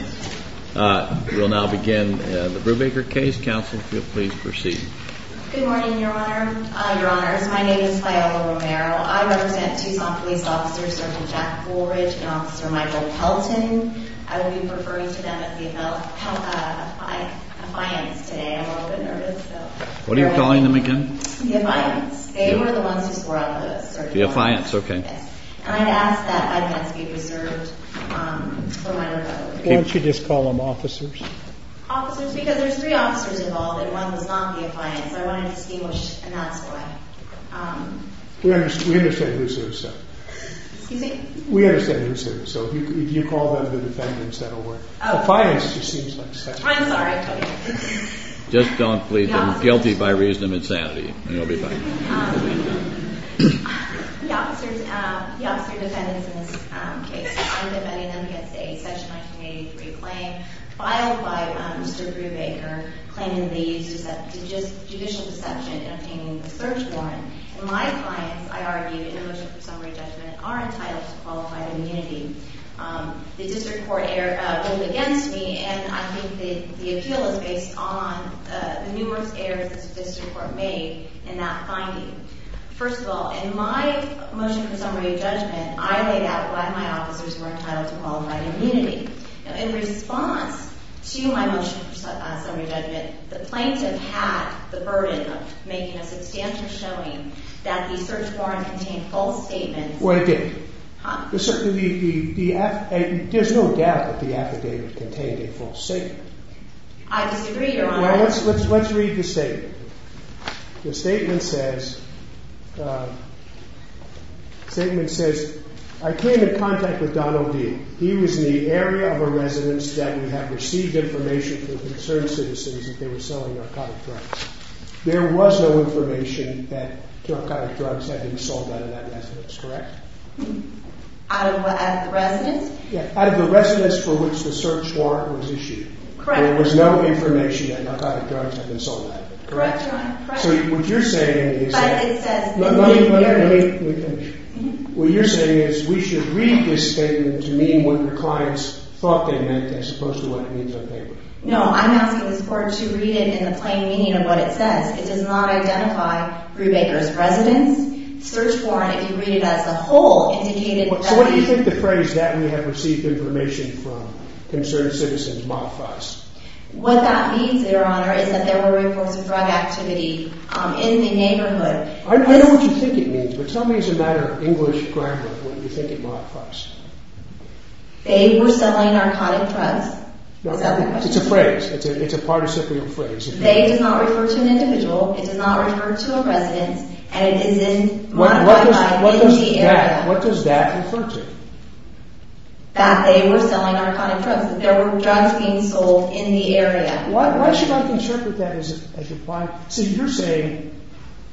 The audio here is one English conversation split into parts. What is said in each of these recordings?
We'll now begin the Brubaker case. Counsel, if you'll please proceed. Good morning, Your Honor. Your Honors, my name is Paola Romero. I represent Tucson Police Officer Sergeant Jack Goldridge and Officer Michael Pelton. I will be referring to them as the Affiance today. I'm a little bit nervous. What are you calling them again? The Affiance. They were the ones who swore on those. The Affiance, okay. And I'd ask that evidence be preserved for my rebuttal. Why don't you just call them officers? Officers, because there's three officers involved and one was not the Affiance. So I wanted to distinguish, and that's why. We understand who's who, so. Excuse me? We understand who's who, so if you call them the defendants, that'll work. Oh. Affiance just seems like such a... I'm sorry, I've told you. Just don't plead them guilty by reason of insanity, and you'll be fine. The officers, the officer defendants in this case, I'm defending them against a Section 1983 claim filed by Mr. Brubaker, claiming they used judicial deception in obtaining the search warrant. My clients, I argue, in a motion for summary judgment, are entitled to qualified immunity. The district court ruled against me, and I think the appeal is based on the numerous errors that the district court made in that finding. First of all, in my motion for summary judgment, I laid out why my officers were entitled to qualified immunity. In response to my motion for summary judgment, the plaintiff had the burden of making a substantial showing that the search warrant contained false statements. Well, it did. Huh? There's no doubt that the affidavit contained a false statement. I disagree, Your Honor. Well, let's read the statement. The statement says, I came in contact with Donald D. He was in the area of a residence that we have received information from concerned citizens that they were selling narcotic drugs. There was no information that narcotic drugs had been sold out of that residence, correct? Out of the residence? Yeah, out of the residence for which the search warrant was issued. Correct. There was no information that narcotic drugs had been sold out of it, correct? Correct, Your Honor. So what you're saying is that... But it says... Let me finish. What you're saying is we should read this statement to mean what the clients thought they meant as opposed to what it means on paper. No, I'm asking the court to read it in the plain meaning of what it says. It does not identify Brubaker's residence. The search warrant, if you read it as a whole, indicated that... What that means, Your Honor, is that there were reports of drug activity in the neighborhood. I know what you think it means, but tell me as a matter of English grammar what you think it modifies. They were selling narcotic drugs. It's a phrase. It's a participial phrase. They does not refer to an individual. It does not refer to a residence. And it exists... What does that refer to? That they were selling narcotic drugs. Because there were drugs being sold in the area. Why should I interpret that as applied... See, you're saying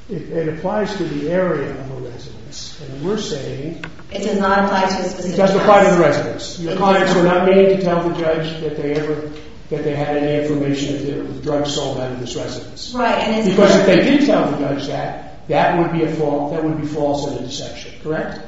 it applies to the area of a residence. And we're saying... It does not apply to a specific residence. It does apply to the residence. The clients were not meaning to tell the judge that they had any information that there were drugs sold out of this residence. Right, and it's... Because if they did tell the judge that, that would be false and a deception, correct?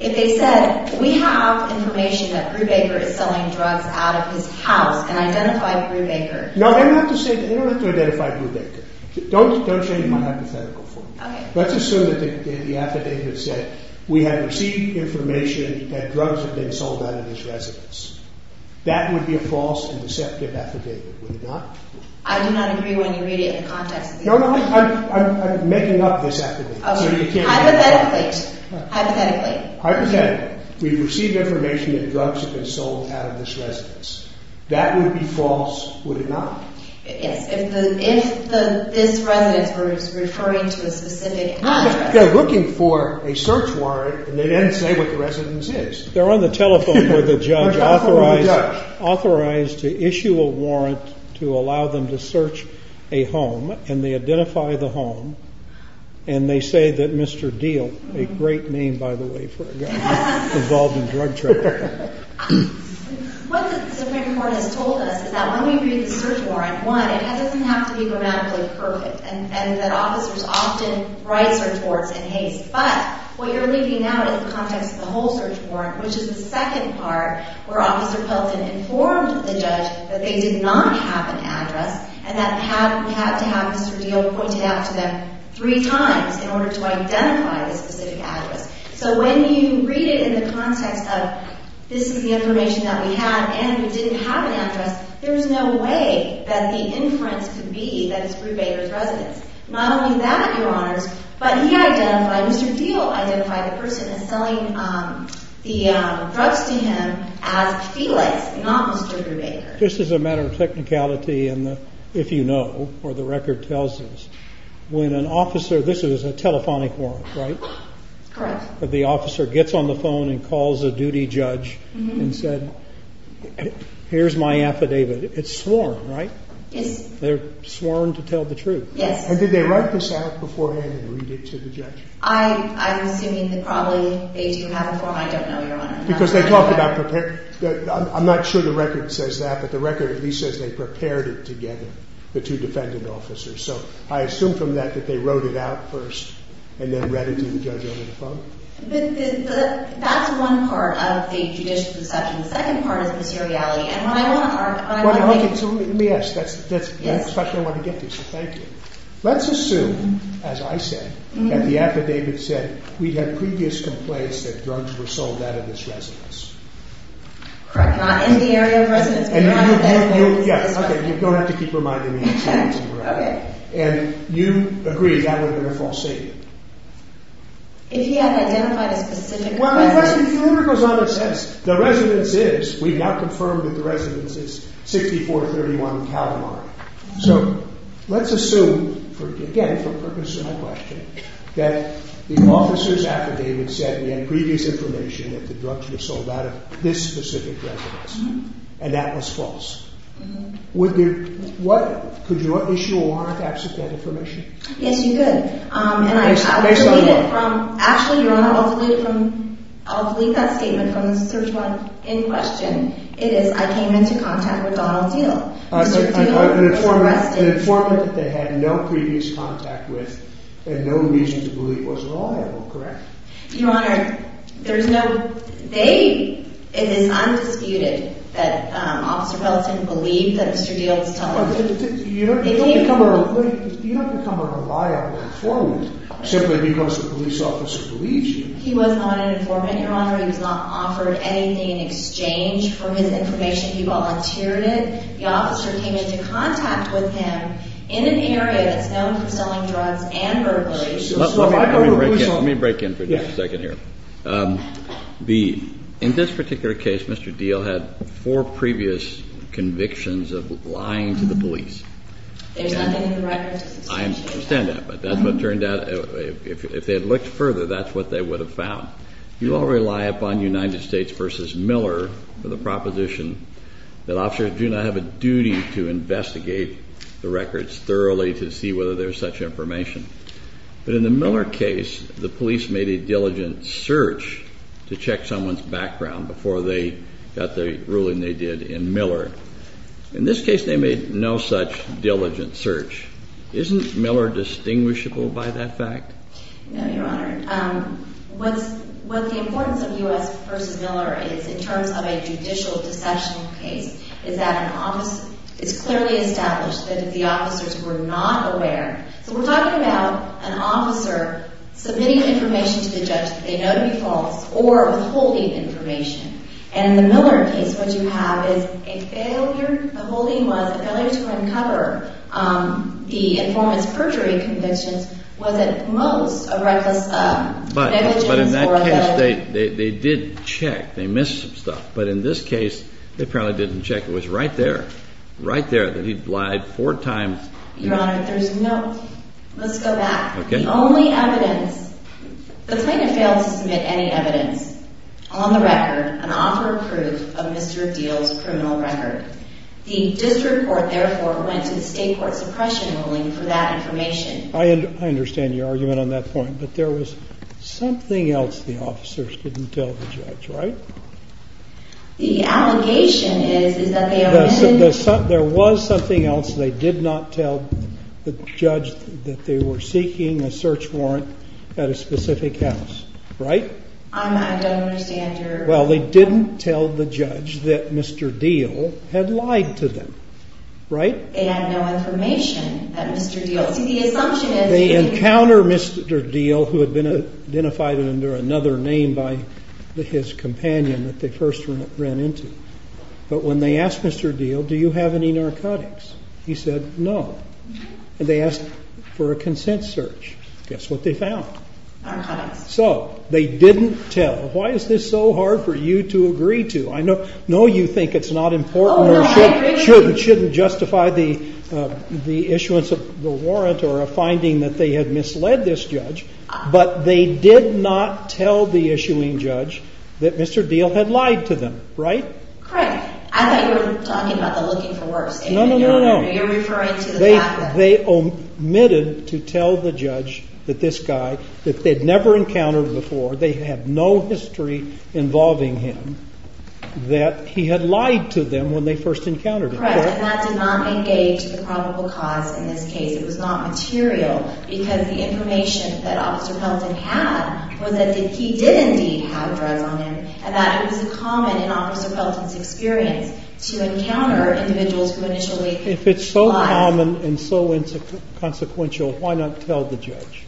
If they said, we have information that Brubaker is selling drugs out of his house and identified Brubaker... No, they don't have to identify Brubaker. Don't change my hypothetical for me. Let's assume that the affidavit said, we have received information that drugs have been sold out of his residence. That would be a false and deceptive affidavit, would it not? I do not agree when you read it in the context of the affidavit. No, no, I'm making up this affidavit. Okay, hypothetically. Hypothetically. Hypothetically. We've received information that drugs have been sold out of this residence. That would be false, would it not? Yes, if this residence was referring to a specific address. They're looking for a search warrant, and they didn't say what the residence is. They're on the telephone with the judge, authorized to issue a warrant to allow them to search a home, and they identify the home, and they say that Mr. Deal, a great name, by the way, for a guy involved in drug trafficking. What the Supreme Court has told us is that when we read the search warrant, one, it doesn't have to be grammatically perfect, and that officers often write search warrants in haste. But what you're leaving out is the context of the whole search warrant, which is the second part where Officer Pelton informed the judge that they did not have an address and that they had to have Mr. Deal pointed out to them three times in order to identify the specific address. So when you read it in the context of this is the information that we have, and we didn't have an address, there's no way that the inference could be that it's Brubaker's residence. Not only that, Your Honors, but he identified, Mr. Deal identified the person selling the drugs to him as Felix, not Mr. Brubaker. This is a matter of technicality, and if you know, or the record tells us, when an officer – this is a telephonic warrant, right? Correct. The officer gets on the phone and calls a duty judge and said, here's my affidavit. It's sworn, right? Yes. They're sworn to tell the truth. Yes. And did they write this out beforehand and read it to the judge? I'm assuming that probably they do have a form. I don't know, Your Honor. Because they talked about – I'm not sure the record says that, but the record at least says they prepared it together, the two defendant officers. So I assume from that that they wrote it out first and then read it to the judge over the phone? That's one part of the judicial discussion. The second part is materiality, and what I want – Okay, so let me ask. That's the question I want to get to, so thank you. Let's assume, as I said, that the affidavit said we had previous complaints that drugs were sold out of this residence. Correct. Not in the area of residence, but Your Honor – Yes, okay, you don't have to keep reminding me. Okay. And you agree that would have been a false statement? If he had identified a specific residence. Well, my question – the letter goes on and says the residence is – we've now confirmed that the residence is 6431 Calamari. So let's assume, again for the purpose of my question, that the officer's affidavit said we had previous information that the drugs were sold out of this specific residence, and that was false. Mm-hmm. Would there – what – could you issue a warrant to absent that information? Yes, you could. Based on what? Actually, Your Honor, I'll delete that statement from the search warrant in question. It is, I came into contact with Donald Deal. Mr. Deal? An informant that they had no previous contact with and no reason to believe was liable, correct? Your Honor, there's no – they – it is undisputed that Officer Peloton believed that Mr. Deal was telling the truth. You don't become a – you don't become a liable informant simply because the police officer believes you. He was not an informant, Your Honor. He was not offered anything in exchange for his information. He volunteered it. The officer came into contact with him in an area that's known for selling drugs and burglary. Let me break in – let me break in for just a second here. Yes. The – in this particular case, Mr. Deal had four previous convictions of lying to the police. There's nothing in the records to substantiate that. I understand that, but that's what turned out – if they had looked further, that's what they would have found. You all rely upon United States v. Miller for the proposition that officers do not have a duty to investigate the records thoroughly to see whether there's such information. But in the Miller case, the police made a diligent search to check someone's background before they got the ruling they did in Miller. In this case, they made no such diligent search. Isn't Miller distinguishable by that fact? No, Your Honor. What's – what the importance of U.S. v. Miller is in terms of a judicial deceptional case is that an – it's clearly established that if the officers were not aware – so we're talking about an officer submitting information to the judge that they know to be false or withholding information. And in the Miller case, what you have is a failure – withholding was a failure to uncover the informant's perjury convictions was, at most, a reckless negligence. But in that case, they did check. They missed some stuff. But in this case, they apparently didn't check. It was right there, right there, that he'd lied four times. Your Honor, there's no – let's go back. Okay. The only evidence – the plaintiff failed to submit any evidence. On the record, an offer of proof of Mr. Deal's criminal record. The district court, therefore, went to the state court suppression ruling for that information. I understand your argument on that point. But there was something else the officers didn't tell the judge, right? The allegation is, is that they – There was something else they did not tell the judge that they were seeking a search warrant at a specific house, right? I don't understand your – Well, they didn't tell the judge that Mr. Deal had lied to them, right? They had no information that Mr. Deal – see, the assumption is – They encounter Mr. Deal, who had been identified under another name by his companion that they first ran into. But when they asked Mr. Deal, do you have any narcotics, he said no. And they asked for a consent search. Guess what they found? Narcotics. So they didn't tell. Why is this so hard for you to agree to? I know you think it's not important or shouldn't justify the issuance of the warrant or a finding that they had misled this judge. But they did not tell the issuing judge that Mr. Deal had lied to them, right? Correct. I thought you were talking about the looking for worse. No, no, no, no. You're referring to the fact that – They omitted to tell the judge that this guy, that they'd never encountered before, they had no history involving him, that he had lied to them when they first encountered him. Correct. And that did not engage the probable cause in this case. It was not material. Because the information that Officer Pelton had was that he did indeed have drugs on him and that it was common in Officer Pelton's experience to encounter individuals who initially lied. If it's so common and so consequential, why not tell the judge?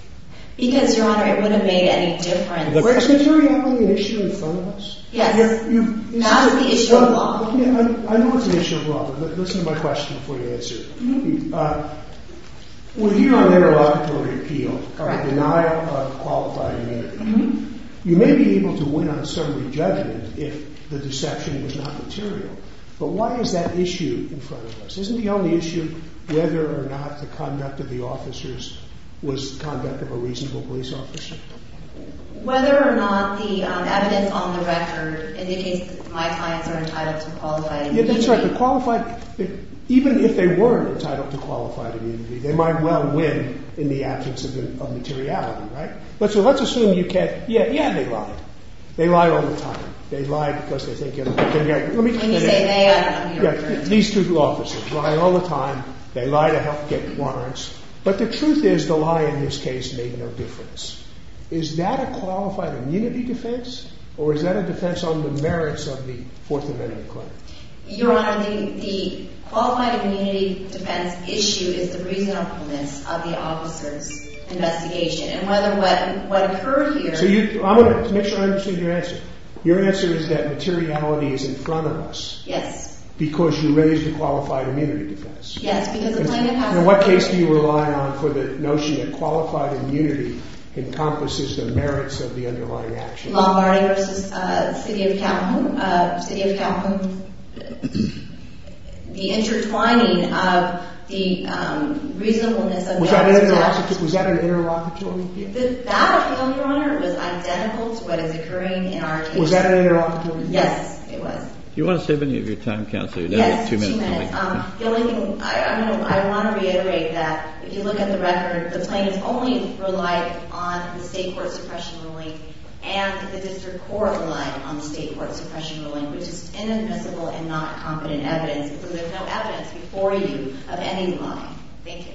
Because, Your Honor, it wouldn't have made any difference. Is there really an issue in front of us? Yes. That's the issue of law. I know it's an issue of law. Listen to my question before you answer it. We're here on interlocutory appeal. Correct. Denial of qualified immunity. You may be able to win on a summary judgment if the deception was not material. But why is that issue in front of us? Isn't the only issue whether or not the conduct of the officers was conduct of a reasonable police officer? Whether or not the evidence on the record indicates that my clients are entitled to qualified immunity. That's right. Even if they weren't entitled to qualified immunity, they might well win in the absence of materiality, right? Let's assume you can't. Yeah, they lie. They lie all the time. They lie because they think they can get it. When you say they, I mean your client. These two officers lie all the time. They lie to help get warrants. But the truth is the lie in this case made no difference. Is that a qualified immunity defense or is that a defense on the merits of the Fourth Amendment claim? Your Honor, the qualified immunity defense issue is the reasonableness of the officer's investigation. And whether what occurred here. I'm going to make sure I understand your answer. Your answer is that materiality is in front of us. Yes. Because you raised the qualified immunity defense. Yes, because the plaintiff has. In what case do you rely on for the notion that qualified immunity encompasses the merits of the underlying action? Lombardi v. City of Calhoun. City of Calhoun. The intertwining of the reasonableness of the officer's actions. Was that an interlocutory? That appeal, Your Honor, was identical to what is occurring in our case. Was that an interlocutory? Yes, it was. Do you want to save any of your time, Counselor? Yes, two minutes. The only thing, I want to reiterate that. If you look at the record, the plaintiffs only relied on the State Court suppression ruling. And the District Court relied on the State Court suppression ruling. Which is inadmissible and not competent evidence. Because there's no evidence before you of any lying. Thank you.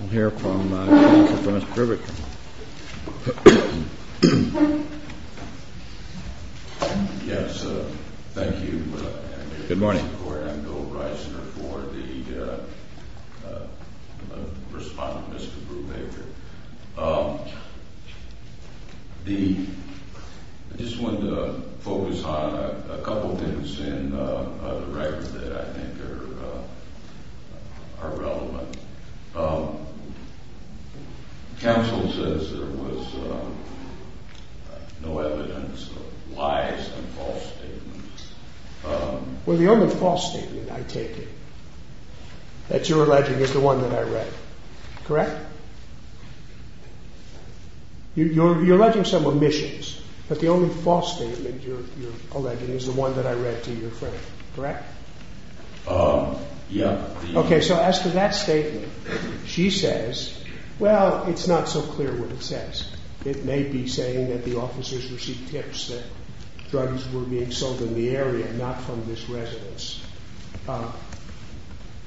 We'll hear from Mr. Krubeck. Yes, thank you. Good morning. I'm Bill Reisner for the respondent, Mr. Krubeck. I just wanted to focus on a couple things in the record that I think are relevant. Counsel says there was no evidence of lies and false statements. Well, the only false statement I take is that you're alleging is the one that I read. Correct? You're alleging some omissions. But the only false statement you're alleging is the one that I read to your friend. Correct? Yes. Okay, so as to that statement, she says, well, it's not so clear what it says. It may be saying that the officers received tips that drugs were being sold in the area, not from this residence.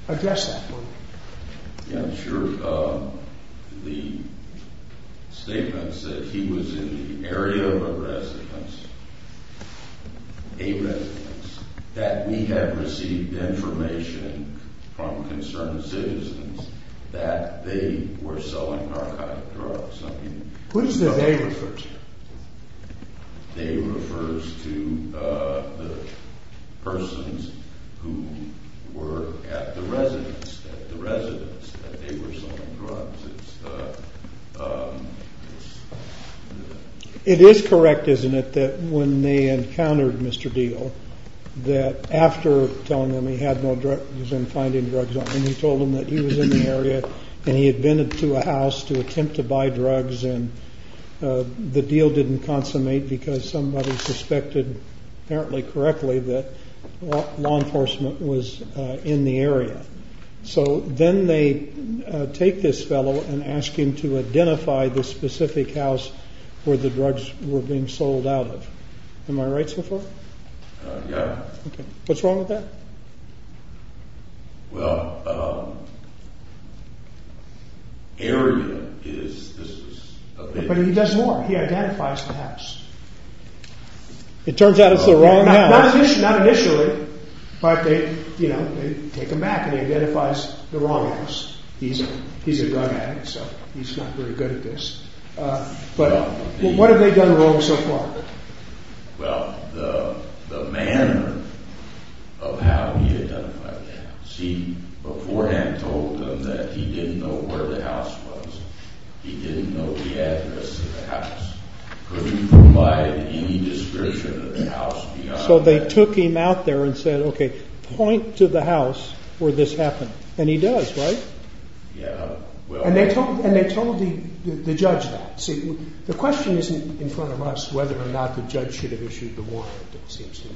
Address that for me. Yeah, sure. The statement said he was in the area of a residence, a residence, that we had received information from concerned citizens that they were selling narcotic drugs. Who does the they refer to? They refers to the persons who were at the residence, at the residence that they were selling drugs. It is correct, isn't it, that when they encountered Mr. Deal, that after telling him he had no drugs and finding drugs on him, he told him that he was in the area and he had been to a house to attempt to buy drugs and the deal didn't consummate because somebody suspected, apparently correctly, that law enforcement was in the area. So then they take this fellow and ask him to identify the specific house where the drugs were being sold out of. Am I right so far? Yeah. What's wrong with that? Well, area is, this is a big... But he does more. He identifies the house. It turns out it's the wrong house. Not initially, but they, you know, they take him back and he identifies the wrong house. He's a drug addict, so he's not very good at this. But what have they done wrong so far? Well, the manner of how he identified the house. He beforehand told them that he didn't know where the house was. He didn't know the address of the house. Couldn't provide any description of the house beyond... So they took him out there and said, okay, point to the house where this happened. And he does, right? Yeah. And they told the judge that. See, the question isn't in front of us whether or not the judge should have issued the warrant, it seems to me.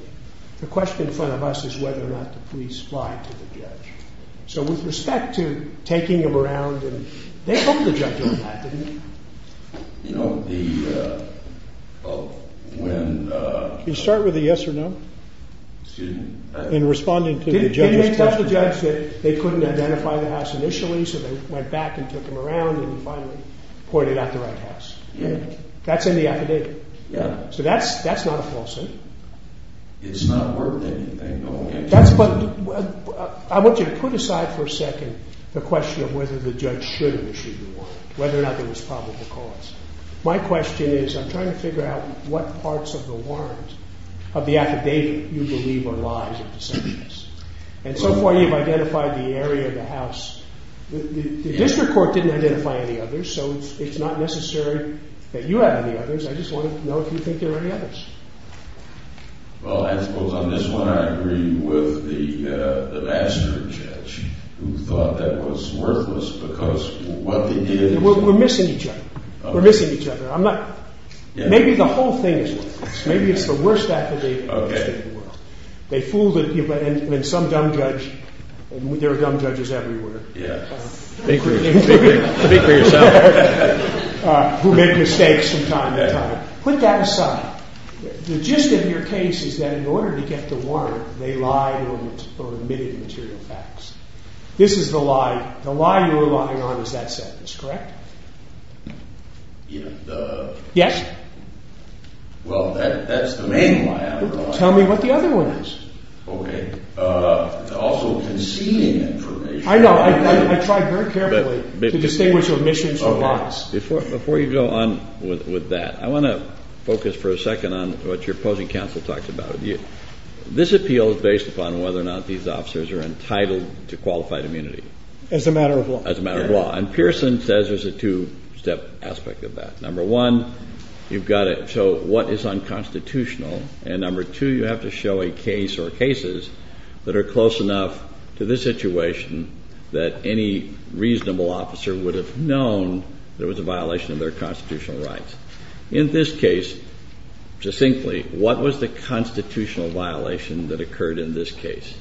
The question in front of us is whether or not the police lied to the judge. So with respect to taking him around, they told the judge all that, didn't they? You know, the, well, when... Can you start with the yes or no? Excuse me? In responding to the judge's question. They told the judge that they couldn't identify the house initially, so they went back and took him around and finally pointed out the right house. That's in the affidavit. Yeah. So that's not a falsehood. It's not worth anything. That's what... I want you to put aside for a second the question of whether the judge should have issued the warrant, whether or not there was probable cause. My question is, I'm trying to figure out what parts of the warrant of the affidavit you believe are lies and deceptions. And so far you've identified the area of the house. The district court didn't identify any others, so it's not necessary that you have any others. I just want to know if you think there are any others. Well, I suppose on this one I agree with the master judge who thought that was worthless because what they did is... We're missing each other. We're missing each other. I'm not... Maybe the whole thing is worthless. Maybe it's the worst affidavit in the world. They fooled the people. And some dumb judge... There are dumb judges everywhere. Yeah. Speak for yourself. Who make mistakes from time to time. Put that aside. The gist of your case is that in order to get the warrant, they lied or admitted material facts. This is the lie. The lie you're relying on is that sentence, correct? Yeah. Yes? Well, that's the main lie I rely on. Tell me what the other one is. Okay. Also concealing information. I know. I tried very carefully to distinguish your omissions from lies. Before you go on with that, I want to focus for a second on what your opposing counsel talked about. This appeal is based upon whether or not these officers are entitled to qualified immunity. As a matter of law. As a matter of law. And Pearson says there's a two-step aspect of that. Number one, you've got to show what is unconstitutional. And number two, you have to show a case or cases that are close enough to this situation that any reasonable officer would have known there was a violation of their constitutional rights. In this case, succinctly, what was the constitutional violation that occurred in this case?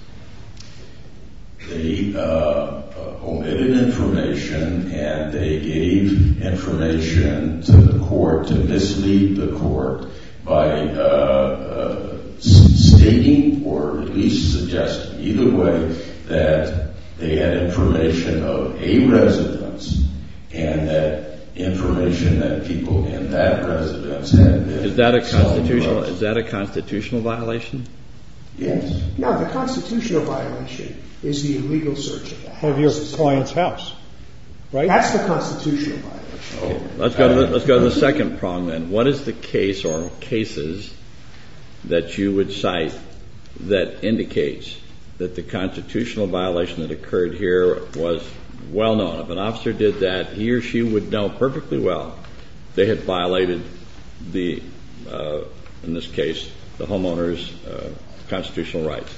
They omitted information and they gave information to the court to mislead the court by stating or at least suggesting either way that they had information of a residence and that information that people in that residence had been told about. Is that a constitutional violation? Yes. No, the constitutional violation is the illegal search of the house. Of your client's house. Right? That's the constitutional violation. Let's go to the second prong then. What is the case or cases that you would cite that indicates that the constitutional violation that occurred here was well known? If an officer did that, he or she would know perfectly well they had violated the, in this case, the homeowner's constitutional rights.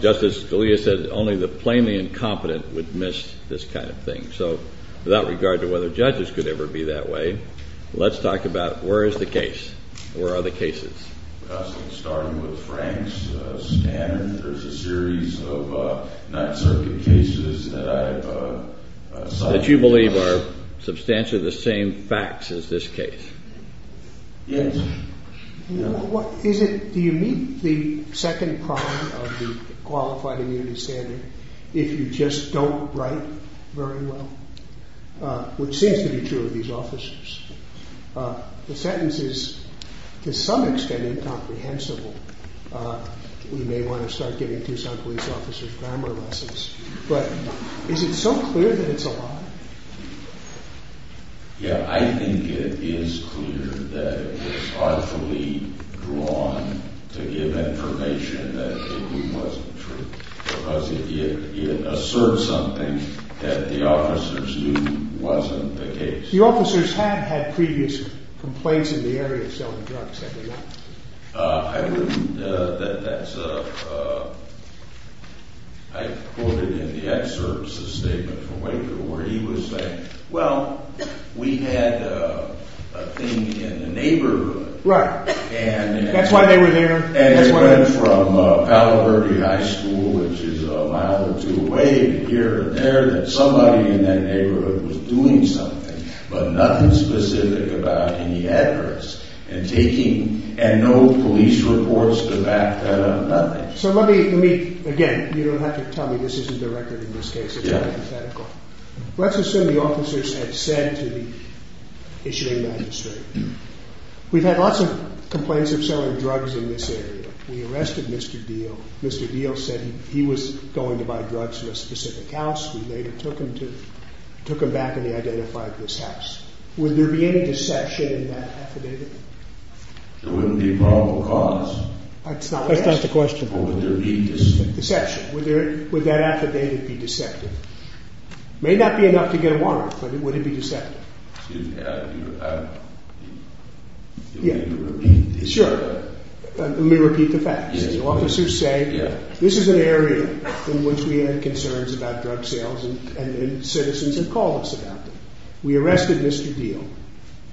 Just as Scalia said, only the plainly incompetent would miss this kind of thing. So without regard to whether judges could ever be that way, let's talk about where is the case? Where are the cases? Starting with Frank's standard, there's a series of Ninth Circuit cases that I've cited. That you believe are substantially the same facts as this case? Yes. Do you meet the second prong of the qualified immunity standard if you just don't write very well? Which seems to be true of these officers. The sentence is, to some extent, incomprehensible. We may want to start giving Tucson police officers grammar lessons. But is it so clear that it's a lie? Yeah, I think it is clear that it was artfully drawn to give information that it wasn't true. Because it asserts something that the officers knew wasn't the case. The officers have had previous complaints in the area of selling drugs, have they not? I wouldn't – that's a – I quoted in the excerpts a statement from Waker where he was saying, well, we had a thing in the neighborhood. Right. That's why they were there. And it went from Palo Verde High School, which is a mile or two away, here and there, that somebody in that neighborhood was doing something. But nothing specific about any adverse. And taking – and no police reports to back that up. Nothing. So let me – again, you don't have to tell me this isn't the record in this case. It's hypothetical. Let's assume the officers had said to the issuing magistrate, we've had lots of complaints of selling drugs in this area. We arrested Mr. Deal. Mr. Deal said he was going to buy drugs from a specific house. We later took him to – took him back and he identified this house. Would there be any deception in that affidavit? There wouldn't be probable cause. That's not what I asked. That's not the question. But would there be deception? Deception. Would there – would that affidavit be deceptive? It may not be enough to get a warrant, but would it be deceptive? Excuse me, I – can we repeat this? Sure. Let me repeat the facts. The officers say, this is an area in which we had concerns about drug sales and citizens had called us about them. We arrested Mr. Deal.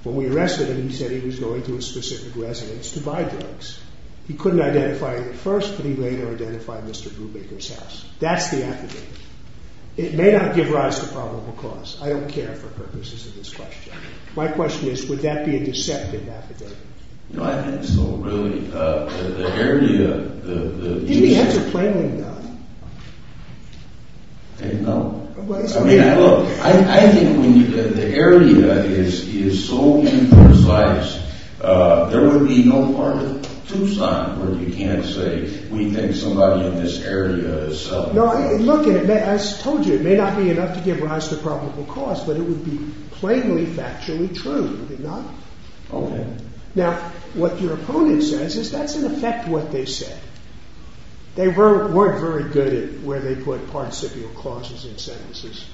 When we arrested him, he said he was going to a specific residence to buy drugs. He couldn't identify it at first, but he later identified Mr. Brubaker's house. That's the affidavit. It may not give rise to probable cause. I don't care for purposes of this question. My question is, would that be a deceptive affidavit? You know, I think so, really. The area, the – The answer is plainly not. No? I mean, look, I think the area is so imprecise, there would be no part of Tucson where you can't say, we think somebody in this area is selling drugs. No, look, and I told you, it may not be enough to give rise to probable cause, but it would be plainly, factually true, would it not? Okay. Now, what your opponent says is that's in effect what they said. They weren't very good at where they put participial clauses in sentences.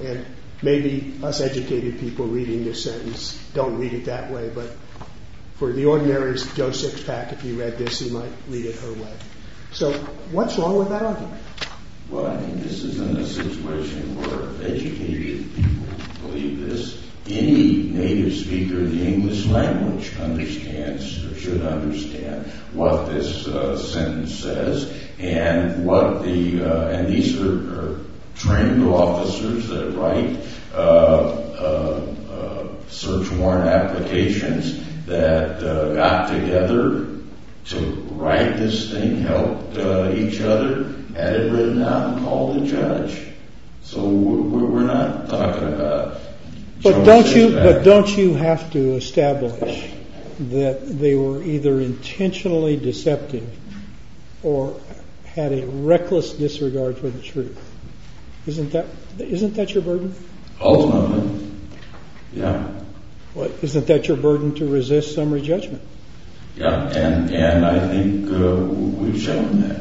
And maybe us educated people reading this sentence don't read it that way, but for the ordinary Joe Sixpack, if you read this, he might read it her way. So what's wrong with that argument? Well, I think this is a situation where educated people believe this. Any native speaker of the English language understands or should understand what this sentence says and what the – and these are trained officers that write search warrant applications that got together to write this thing, helped each other, had it written out and called the judge. So we're not talking about Joe Sixpack. But don't you have to establish that they were either intentionally deceptive or had a reckless disregard for the truth? Isn't that your burden? Ultimately, yeah. Isn't that your burden to resist summary judgment? Yeah, and I think we've shown that.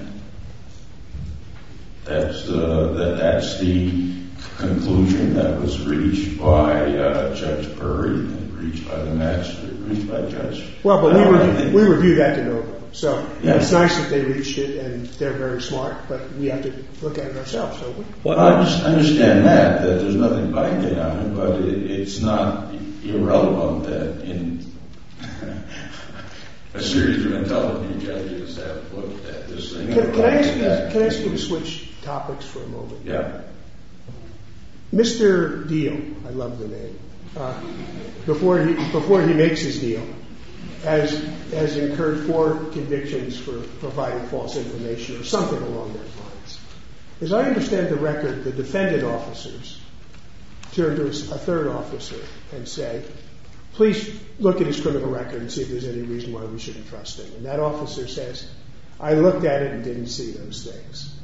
That that's the conclusion that was reached by Judge Perry and reached by the master and reached by the judge. Well, but we review that to no avail. So it's nice that they reached it and they're very smart, but we have to look at it ourselves. Well, I just understand that, that there's nothing biking on it, but it's not irrelevant that in a series of intelligent judges Can I ask you to switch topics for a moment? Yeah. Mr. Deal, I love the name, before he makes his deal, has incurred four convictions for providing false information or something along those lines. As I understand the record, the defendant officers turned to a third officer and said, please look at his criminal record and see if there's any reason why we shouldn't trust him. And that officer says, I looked at it and didn't see those things.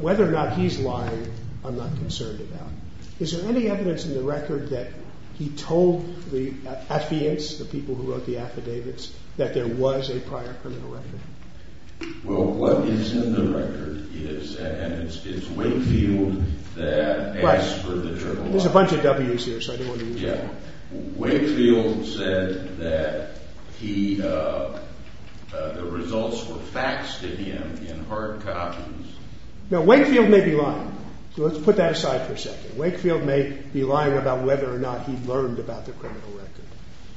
Whether or not he's lying, I'm not concerned about. Is there any evidence in the record that he told the affidavits, the people who wrote the affidavits, that there was a prior criminal record? Well, what is in the record is, and it's Wakefield that asked for the journal. There's a bunch of W's here, so I didn't want to use that. Wakefield said that the results were faxed to him in hard copies. Now, Wakefield may be lying, so let's put that aside for a second. Wakefield may be lying about whether or not he learned about the criminal record.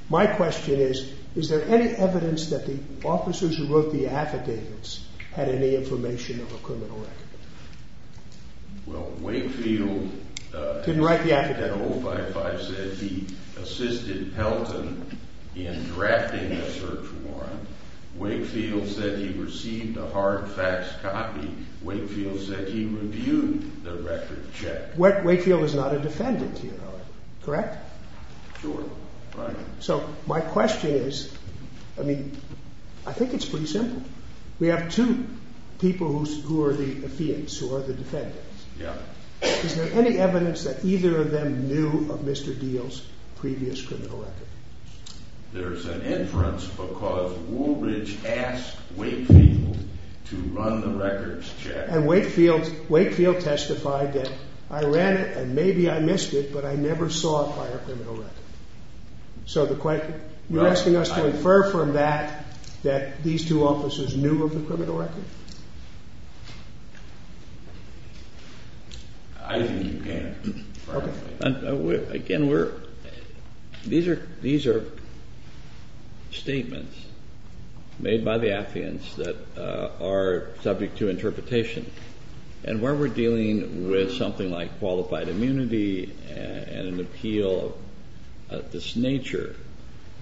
My question is, is there any evidence that the officers who wrote the affidavits had any information of a criminal record? Well, Wakefield… Didn't write the affidavit. …said he assisted Pelton in drafting the search warrant. Wakefield said he received a hard fax copy. Wakefield said he reviewed the record check. Wakefield is not a defendant here, correct? Sure, right. So my question is, I mean, I think it's pretty simple. We have two people who are the affidavits, who are the defendants. Is there any evidence that either of them knew of Mr. Deal's previous criminal record? There's an inference because Woolridge asked Wakefield to run the records check. And Wakefield testified that I ran it and maybe I missed it, but I never saw it by a criminal record. So you're asking us to infer from that that these two officers knew of the criminal record? Again, these are statements made by the affidavits that are subject to interpretation. And when we're dealing with something like qualified immunity and an appeal of this nature,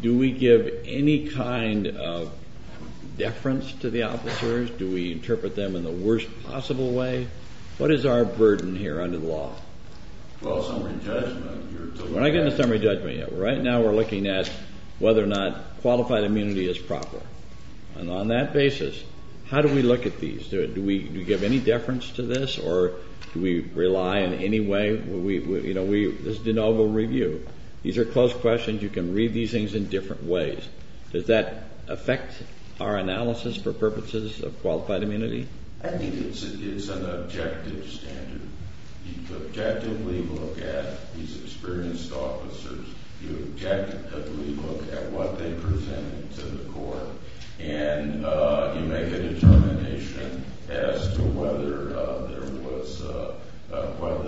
do we give any kind of deference to the officers? Do we interpret them in the worst possible way? What is our burden here under the law? Well, summary judgment. We're not getting to summary judgment yet. Right now we're looking at whether or not qualified immunity is proper. And on that basis, how do we look at these? Do we give any deference to this or do we rely in any way? This is de novo review. These are close questions. You can read these things in different ways. Does that affect our analysis for purposes of qualified immunity? I think it's an objective standard. You objectively look at these experienced officers. You objectively look at what they presented to the court. And you make a determination as to whether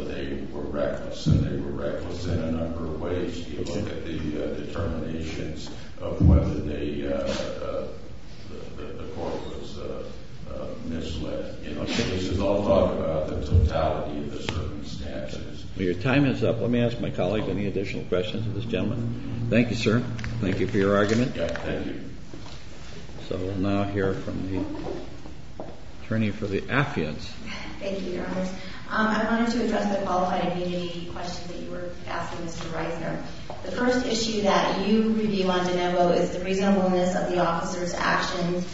they were reckless. And they were reckless in a number of ways. You look at the determinations of whether the court was misled. These all talk about the totality of the circumstances. Your time is up. Let me ask my colleague any additional questions of this gentleman. Thank you, sir. Thank you for your argument. So we'll now hear from the attorney for the affidavits. Thank you, Your Honor. I wanted to address the qualified immunity question that you were asking, Mr. Reisner. The first issue that you review on de novo is the reasonableness of the officer's actions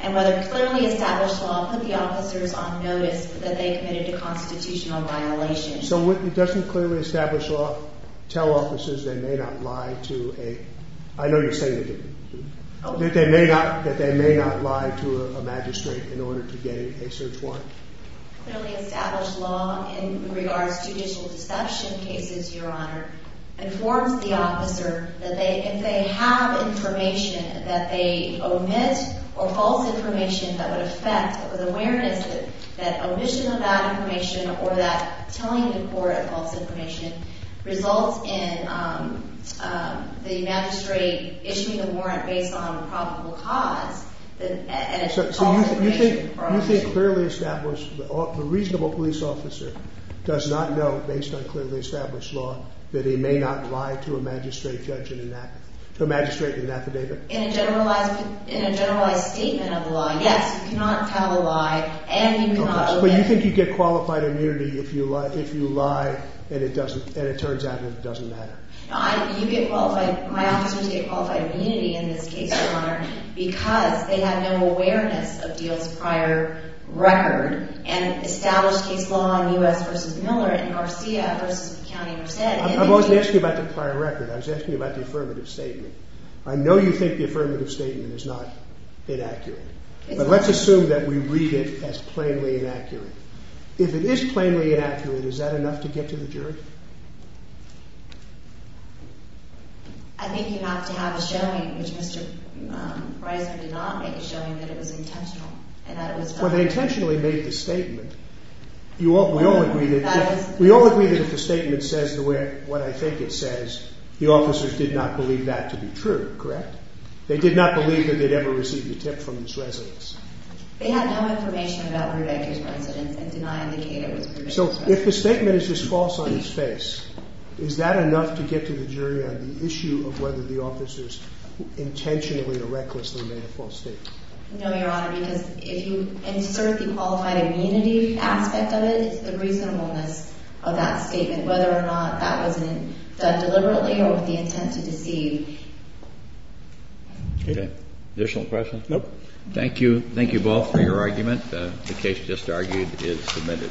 and whether clearly established law put the officers on notice that they committed a constitutional violation. So it doesn't clearly establish law tell officers they may not lie to a I know you're saying it didn't. That they may not lie to a magistrate in order to gain a search warrant. Clearly established law in regards to judicial deception cases, Your Honor, informs the officer that if they have information that they omit or false information that would affect with awareness that omission of that information or that telling the court of false information results in the magistrate issuing a warrant based on probable cause. So you think clearly established, the reasonable police officer does not know based on clearly established law that he may not lie to a magistrate in an affidavit? In a generalized statement of the law, yes. You get qualified immunity if you lie and it turns out it doesn't matter. My officers get qualified immunity in this case, Your Honor, because they have no awareness of Diehl's prior record and established case law in U.S. v. Miller and Garcia v. County Merced. I wasn't asking you about the prior record. I was asking you about the affirmative statement. I know you think the affirmative statement is not inaccurate. But let's assume that we read it as plainly inaccurate. If it is plainly inaccurate, is that enough to get to the jury? I think you have to have a showing, which Mr. Reiser did not make, a showing that it was intentional. Well, they intentionally made the statement. We all agree that if the statement says what I think it says, the officers did not believe that to be true, correct? They did not believe that they'd ever received a tip from this residence. They had no information about Ruedecker's residence and did not indicate it was Ruedecker's residence. So if the statement is just false on its face, is that enough to get to the jury on the issue of whether the officers intentionally or recklessly made a false statement? No, Your Honor, because if you insert the qualified immunity aspect of it, the reasonableness of that statement, whether or not that wasn't done deliberately or with the intent to deceive. Okay. Additional questions? No. Thank you. Thank you both for your argument. The case just argued is submitted.